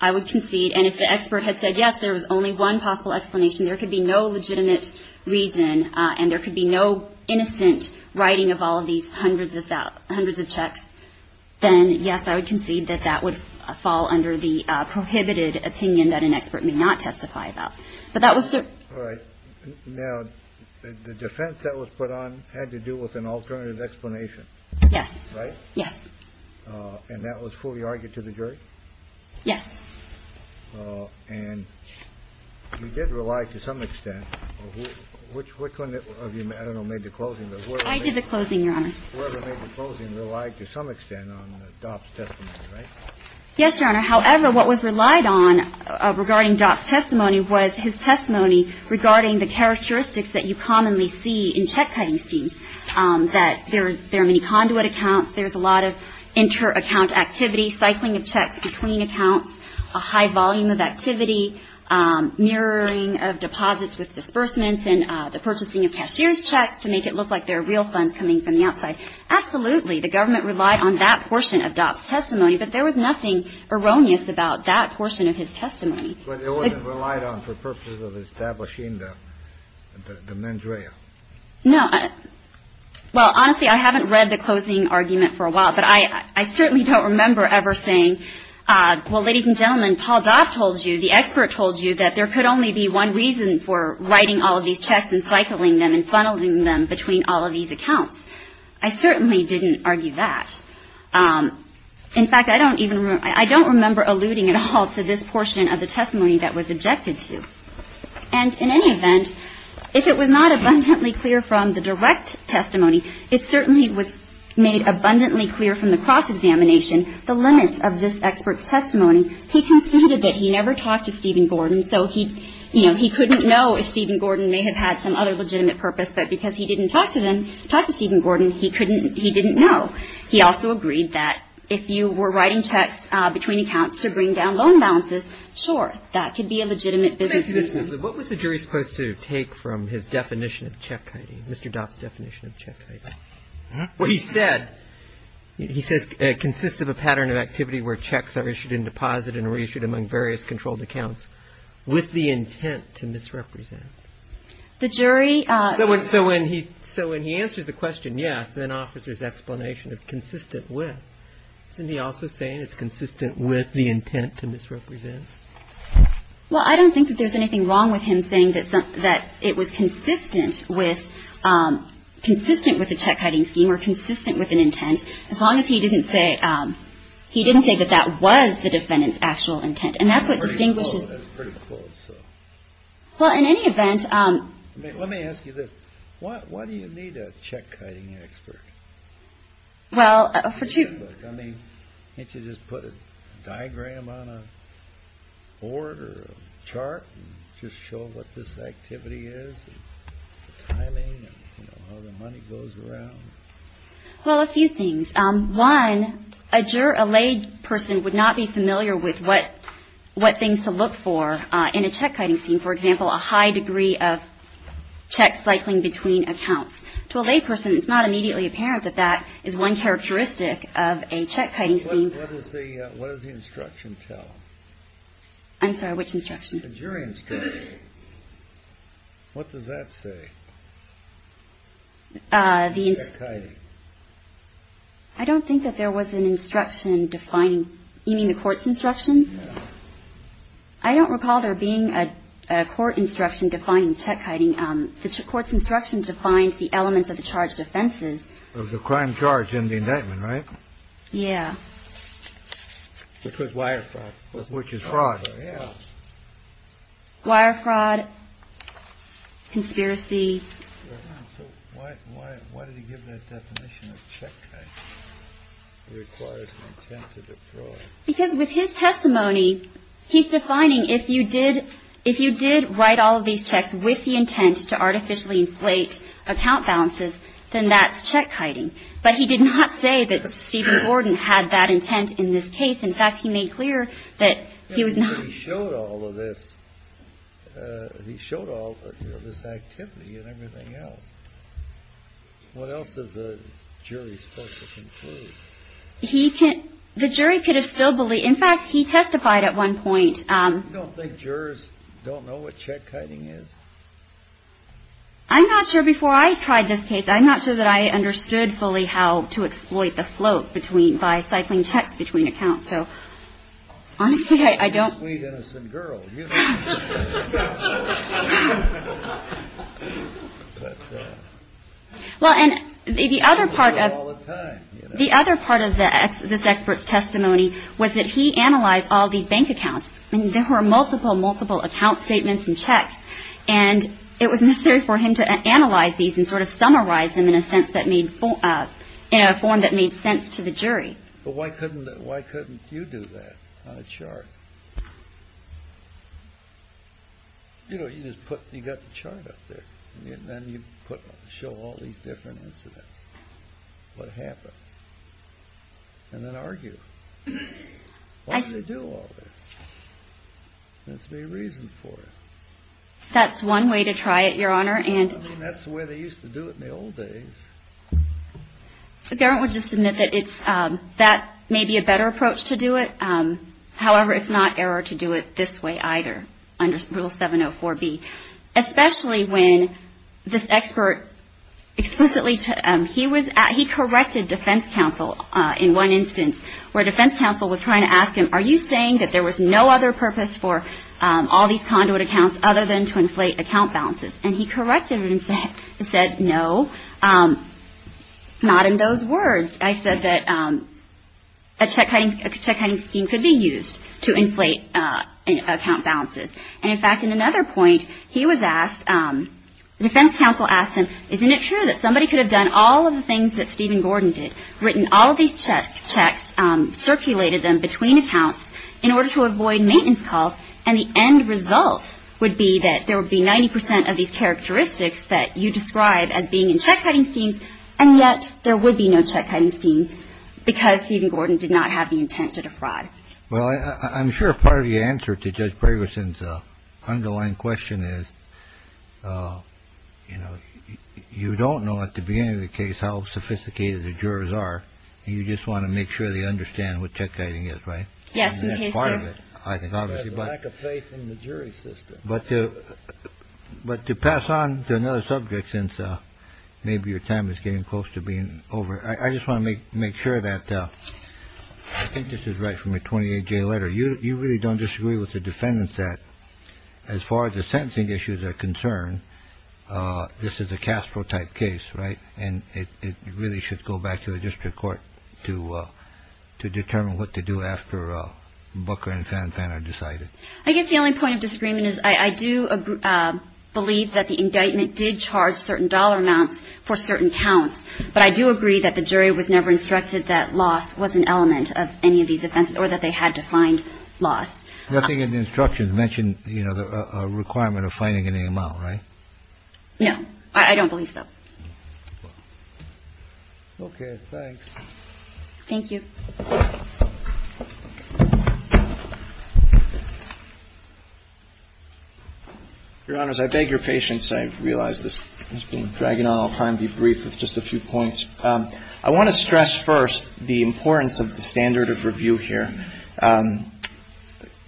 I would concede, and if the expert had said yes, there was only one possible explanation, there could be no legitimate reason and there could be no innocent writing of all of these hundreds of checks, then, yes, I would concede that that would fall under the prohibited opinion that an expert may not testify about. But that was certain. All right. Now, the defense that was put on had to do with an alternative explanation. Yes. Right. Yes. And that was fully argued to the jury? Yes. And you did rely to some extent. Which one of you, I don't know, made the closing? I did the closing, Your Honor. Whoever made the closing relied to some extent on Dopp's testimony, right? Yes, Your Honor. However, what was relied on regarding Dopp's testimony was his testimony regarding the characteristics that you commonly see in check-cutting schemes, that there are many conduit accounts, there's a lot of inter-account activity, cycling of checks between accounts, a high volume of activity, mirroring of deposits with disbursements, and the purchasing of cashier's checks to make it look like there are real funds coming from the outside. Absolutely, the government relied on that portion of Dopp's testimony, but there was nothing erroneous about that portion of his testimony. But it wasn't relied on for purposes of establishing the mandrea. No. Well, honestly, I haven't read the closing argument for a while, but I certainly don't remember ever saying, well, ladies and gentlemen, Paul Dopp told you, the expert told you, that there could only be one reason for writing all of these checks and cycling them and funneling them between all of these accounts. I certainly didn't argue that. In fact, I don't even remember – I don't remember alluding at all to this portion of the testimony that was objected to. And in any event, if it was not abundantly clear from the direct testimony, it certainly was made abundantly clear from the cross-examination, the limits of this expert's testimony. And he considered that he never talked to Stephen Gordon, so he, you know, he couldn't know if Stephen Gordon may have had some other legitimate purpose. But because he didn't talk to them, talk to Stephen Gordon, he couldn't – he didn't know. He also agreed that if you were writing checks between accounts to bring down loan balances, sure, that could be a legitimate business case. What was the jury supposed to take from his definition of check hiding, Mr. Dopp's definition of check hiding? Well, he said – he says it consists of a pattern of activity where checks are issued in deposit and reissued among various controlled accounts with the intent to misrepresent. The jury – So when he – so when he answers the question, yes, then offers his explanation of consistent with, isn't he also saying it's consistent with the intent to misrepresent? Well, I don't think that there's anything wrong with him saying that it was consistent with – consistent with the check hiding scheme or consistent with an intent, as long as he didn't say – he didn't say that that was the defendant's actual intent. And that's what distinguishes – That's pretty close. Well, in any event – Let me ask you this. Why do you need a check hiding expert? Well, for two – Look, I mean, can't you just put a diagram on a board or a chart and just show what this activity is and the timing and, you know, how the money goes around? Well, a few things. One, a lay person would not be familiar with what things to look for in a check hiding scheme. For example, a high degree of check cycling between accounts. To a lay person, it's not immediately apparent that that is one characteristic of a check hiding scheme. What does the – what does the instruction tell? I'm sorry. Which instruction? The jury instruction. What does that say? The – Check hiding. I don't think that there was an instruction defining – you mean the court's instruction? No. I don't recall there being a court instruction defining check hiding. The court's instruction defines the elements of the charged offenses. Of the crime charge in the indictment, right? Yeah. Which was wire fraud. Which is fraud. Wire fraud, conspiracy. So why did he give that definition of check hiding? It requires an intent of the fraud. Because with his testimony, he's defining if you did – if you did write all of these checks with the intent to artificially inflate account balances, then that's check hiding. But he did not say that Stephen Gordon had that intent in this case. In fact, he made clear that he was not. But he showed all of this. He showed all of this activity and everything else. What else is the jury supposed to conclude? He can – the jury could have still – in fact, he testified at one point. You don't think jurors don't know what check hiding is? I'm not sure. Before I tried this case, I'm not sure that I understood fully how to exploit the float between – by cycling checks between accounts. So honestly, I don't. You're a sweet, innocent girl. You don't know. Well, and the other part of – The other part of this expert's testimony was that he analyzed all these bank accounts. I mean, there were multiple, multiple account statements and checks. And it was necessary for him to analyze these and sort of summarize them in a sense that made – in a form that made sense to the jury. But why couldn't – why couldn't you do that on a chart? You know, you just put – you got the chart up there. And then you put – show all these different incidents, what happens, and then argue. Why do they do all this? There has to be a reason for it. That's one way to try it, Your Honor. I mean, that's the way they used to do it in the old days. So, Garrett would just admit that it's – that may be a better approach to do it. However, it's not error to do it this way either under Rule 704B, especially when this expert explicitly – he was – he corrected defense counsel in one instance, where defense counsel was trying to ask him, are you saying that there was no other purpose for all these conduit accounts other than to inflate account balances? And he corrected it and said, no, not in those words. I said that a check-hiding scheme could be used to inflate account balances. And, in fact, in another point, he was asked – defense counsel asked him, isn't it true that somebody could have done all of the things that Stephen Gordon did, written all of these checks, circulated them between accounts in order to avoid maintenance calls, and the end result would be that there would be 90 percent of these characteristics that you describe as being in check-hiding schemes, and yet there would be no check-hiding scheme because Stephen Gordon did not have the intent to defraud. Well, I'm sure part of the answer to Judge Bragerson's underlying question is, you know, you don't know at the beginning of the case how sophisticated the jurors are. You just want to make sure they understand what check-hiding is, right? Yes. That's part of it, I think, obviously. There's a lack of faith in the jury system. But to pass on to another subject, since maybe your time is getting close to being over, I just want to make sure that – I think this is right from a 28-J letter. You really don't disagree with the defendants that, as far as the sentencing issues are concerned, this is a Castro-type case, right? And it really should go back to the district court to determine what to do after Booker and Fanfana decided. I guess the only point of disagreement is I do believe that the indictment did charge certain dollar amounts for certain counts, but I do agree that the jury was never instructed that loss was an element of any of these offenses or that they had to find loss. Nothing in the instructions mentioned, you know, a requirement of finding any amount, right? No. I don't believe so. Okay. Thanks. Thank you. Your Honors, I beg your patience. I realize this has been dragging on. I'll try and be brief with just a few points. I want to stress first the importance of the standard of review here.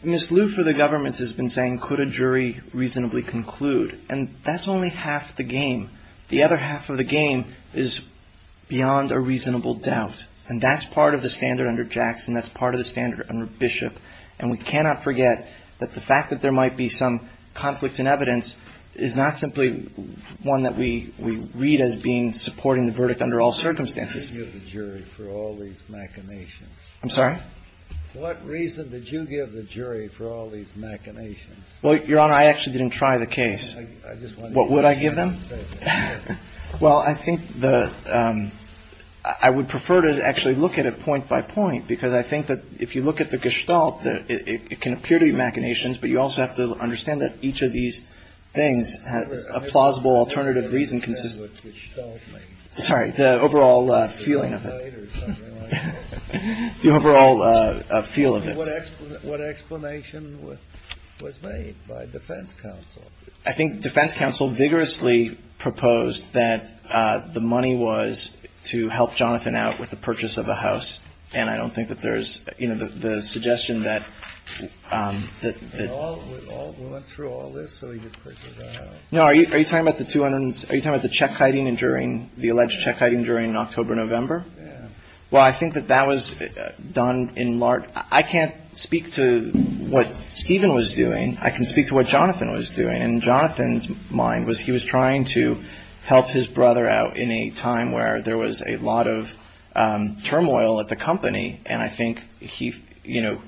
Ms. Liu for the government has been saying, could a jury reasonably conclude? And that's only half the game. The other half of the game is beyond a reasonable doubt. And that's part of the standard under Jackson. That's part of the standard under Bishop. And we cannot forget that the fact that there might be some conflict in evidence is not simply one that we read as being supporting the verdict under all circumstances. I didn't give the jury for all these machinations. I'm sorry? What reason did you give the jury for all these machinations? Well, Your Honor, I actually didn't try the case. What would I give them? Well, I think the – I would prefer to actually look at it point by point because I think that if you look at the gestalt, it can appear to be machinations, but you also have to understand that each of these things has a plausible alternative reason. Sorry. The overall feeling of it. The overall feel of it. What explanation was made by defense counsel? I think defense counsel vigorously proposed that the money was to help Jonathan out with the purchase of a house. And I don't think that there's – you know, the suggestion that – We went through all this so he could purchase a house. No, are you talking about the 200 – are you talking about the check hiding during – the alleged check hiding during October, November? Yeah. Well, I think that that was done in large – I can't speak to what Stephen was doing. I can speak to what Jonathan was doing. And Jonathan's mind was he was trying to help his brother out in a time where there was a lot of turmoil at the company. And I think he, you know,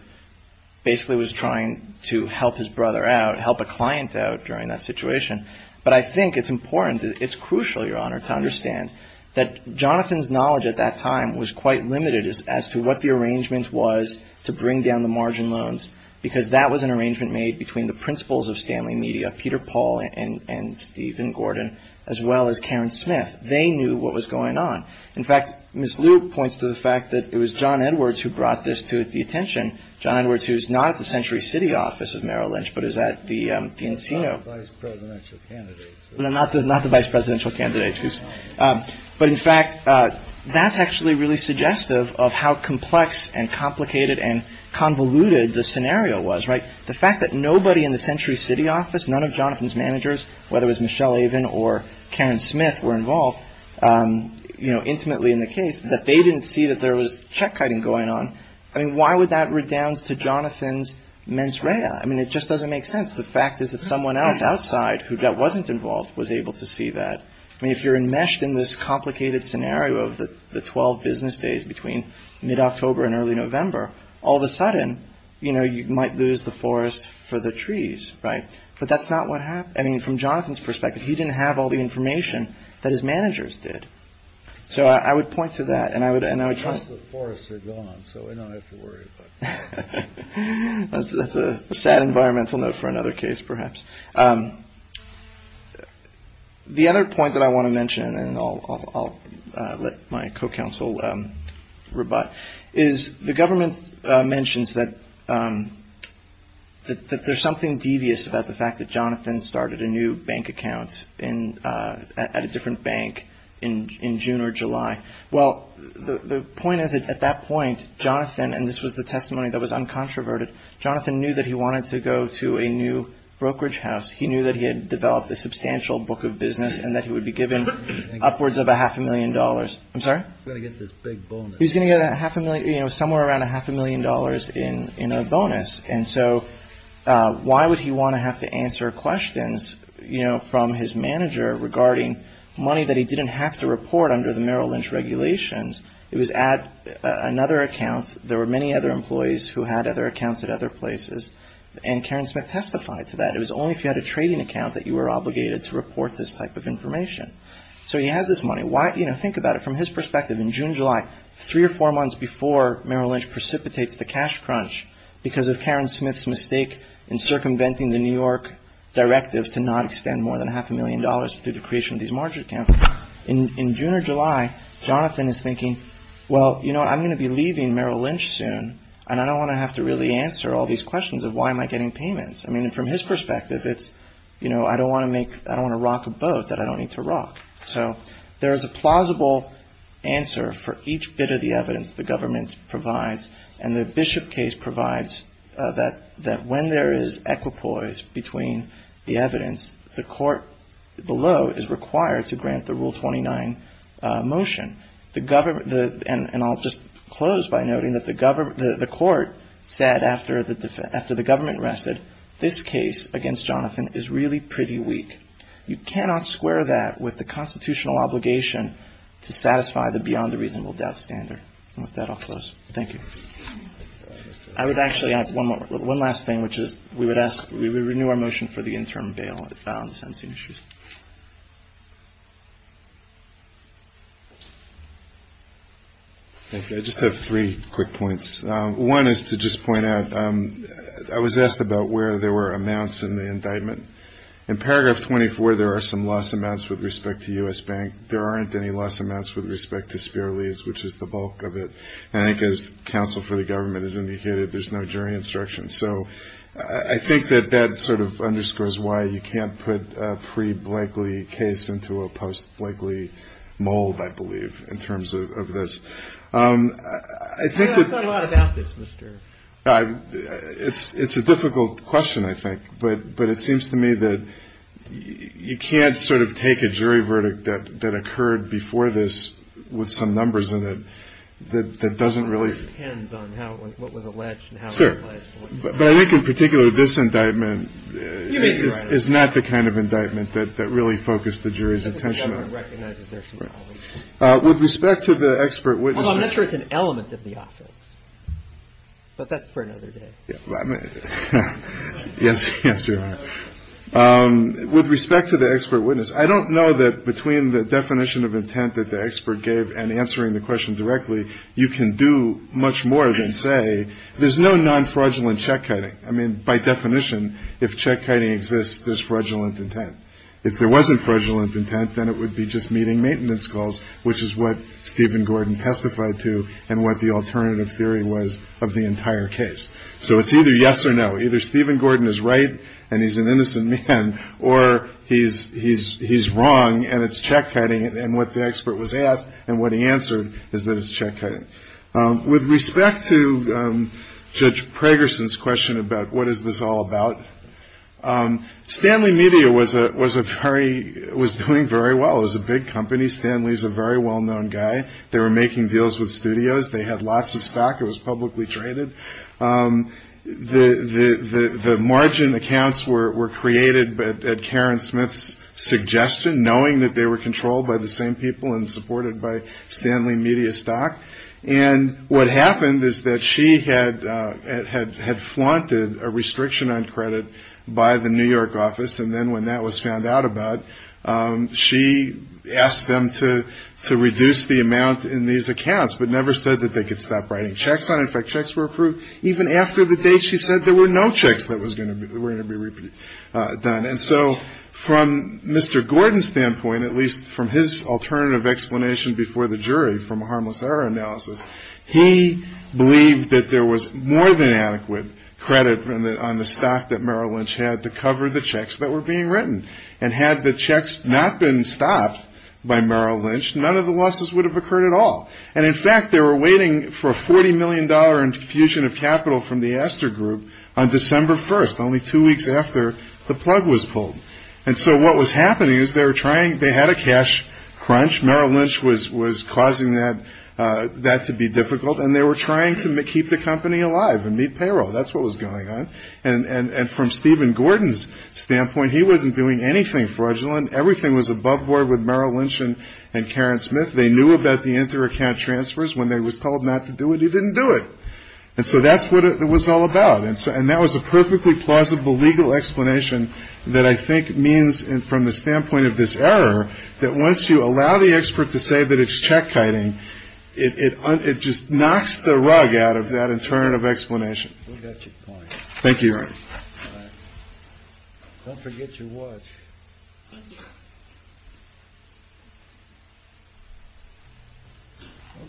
basically was trying to help his brother out, help a client out during that situation. But I think it's important – it's crucial, Your Honor, to understand that Jonathan's knowledge at that time was quite limited as to what the arrangement was to bring down the margin loans, because that was an arrangement made between the principals of Stanley Media, Peter Paul and Stephen Gordon, as well as Karen Smith. They knew what was going on. In fact, Ms. Liu points to the fact that it was John Edwards who brought this to the attention. John Edwards, who's not at the Century City office of Merrill Lynch, but is at the Encino. Not the vice presidential candidate. No, not the vice presidential candidate. But, in fact, that's actually really suggestive of how complex and complicated and convoluted the scenario was, right? The fact that nobody in the Century City office, none of Jonathan's managers, whether it was Michelle Avon or Karen Smith, were involved, you know, intimately in the case, that they didn't see that there was check-kiting going on. I mean, why would that redound to Jonathan's mens rea? I mean, it just doesn't make sense. The fact is that someone else outside who wasn't involved was able to see that. I mean, if you're enmeshed in this complicated scenario of the 12 business days between mid-October and early November, all of a sudden, you know, you might lose the forest for the trees, right? But that's not what happened. I mean, from Jonathan's perspective, he didn't have all the information that his managers did. So I would point to that. And I would trust that forests are gone, so we don't have to worry about that. The other point that I want to mention, and I'll let my co-counsel rebut, is the government mentions that there's something devious about the fact that Jonathan started a new bank account at a different bank in June or July. Well, the point is that at that point, Jonathan, and this was the testimony that was uncontroverted, Jonathan knew that he wanted to go to a new brokerage house. He knew that he had developed a substantial book of business and that he would be given upwards of a half a million dollars. I'm sorry? He's going to get this big bonus. He's going to get somewhere around a half a million dollars in a bonus. And so why would he want to have to answer questions, you know, from his manager regarding money that he didn't have to report under the Merrill Lynch regulations? It was at another account. There were many other employees who had other accounts at other places. And Karen Smith testified to that. It was only if you had a trading account that you were obligated to report this type of information. So he has this money. Why? You know, think about it from his perspective. In June, July, three or four months before Merrill Lynch precipitates the cash crunch, because of Karen Smith's mistake in circumventing the New York directive to not extend more than a half a million dollars through the creation of these margin accounts, in June or July, Jonathan is thinking, well, you know, I'm going to be leaving Merrill Lynch soon, and I don't want to have to really answer all these questions of why am I getting payments. I mean, from his perspective, it's, you know, I don't want to rock a boat that I don't need to rock. So there is a plausible answer for each bit of the evidence the government provides, and the Bishop case provides that when there is equipoise between the evidence, the court below is required to grant the Rule 29 motion. And I'll just close by noting that the court said after the government rested, this case against Jonathan is really pretty weak. You cannot square that with the constitutional obligation to satisfy the beyond-reasonable-doubt standard. And with that, I'll close. Thank you. I would actually add one last thing, which is we would renew our motion for the interim bail on the sentencing issues. Thank you. I just have three quick points. One is to just point out I was asked about where there were amounts in the indictment. In Paragraph 24, there are some loss amounts with respect to U.S. Bank. There aren't any loss amounts with respect to Spear Lease, which is the bulk of it. And I think as counsel for the government has indicated, there's no jury instruction. So I think that that sort of underscores why you can't put a pre-Blakely case into a post-Blakely mold, I believe, in terms of this. I've thought a lot about this, Mr. It's a difficult question, I think. But it seems to me that you can't sort of take a jury verdict that occurred before this with some numbers in it that doesn't really. It depends on what was alleged and how it was alleged. But I think in particular, this indictment is not the kind of indictment that really focused the jury's attention on. With respect to the expert witness, I'm not sure it's an element of the office, but that's for another day. Yes. Yes, sir. With respect to the expert witness, I don't know that between the definition of intent that the expert gave and answering the question directly, you can do much more than say there's no non-fraudulent check cutting. I mean, by definition, if check cutting exists, there's fraudulent intent. If there wasn't fraudulent intent, then it would be just meeting maintenance calls, which is what Stephen Gordon testified to and what the alternative theory was of the entire case. So it's either yes or no. Either Stephen Gordon is right and he's an innocent man or he's wrong and it's check cutting. And what the expert was asked and what he answered is that it's check cutting. With respect to Judge Pragerson's question about what is this all about, Stanley Media was doing very well. It was a big company. Stanley's a very well-known guy. They were making deals with studios. They had lots of stock. It was publicly traded. The margin accounts were created at Karen Smith's suggestion, knowing that they were controlled by the same people and supported by Stanley Media stock. And what happened is that she had flaunted a restriction on credit by the New York office, and then when that was found out about, she asked them to reduce the amount in these accounts but never said that they could stop writing checks on it. In fact, checks were approved even after the date she said there were no checks that were going to be done. And so from Mr. Gordon's standpoint, at least from his alternative explanation before the jury, from a harmless error analysis, he believed that there was more than adequate credit on the stock that Merrill Lynch had to cover the checks that were being written. And had the checks not been stopped by Merrill Lynch, none of the losses would have occurred at all. And, in fact, they were waiting for a $40 million infusion of capital from the Astor Group on December 1st, only two weeks after the plug was pulled. And so what was happening is they were trying – they had a cash crunch. Merrill Lynch was causing that to be difficult, and they were trying to keep the company alive and meet payroll. That's what was going on. And from Stephen Gordon's standpoint, he wasn't doing anything fraudulent. Everything was above board with Merrill Lynch and Karen Smith. They knew about the inter-account transfers. When they was told not to do it, he didn't do it. And so that's what it was all about. And that was a perfectly plausible legal explanation that I think means, from the standpoint of this error, that once you allow the expert to say that it's check-kiting, it just knocks the rug out of that alternative explanation. Thank you, Your Honor. Don't forget your watch. Thank you.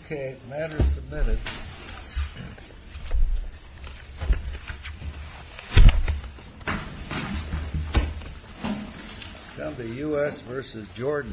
Okay, matter submitted. Down to U.S. v. Jordan.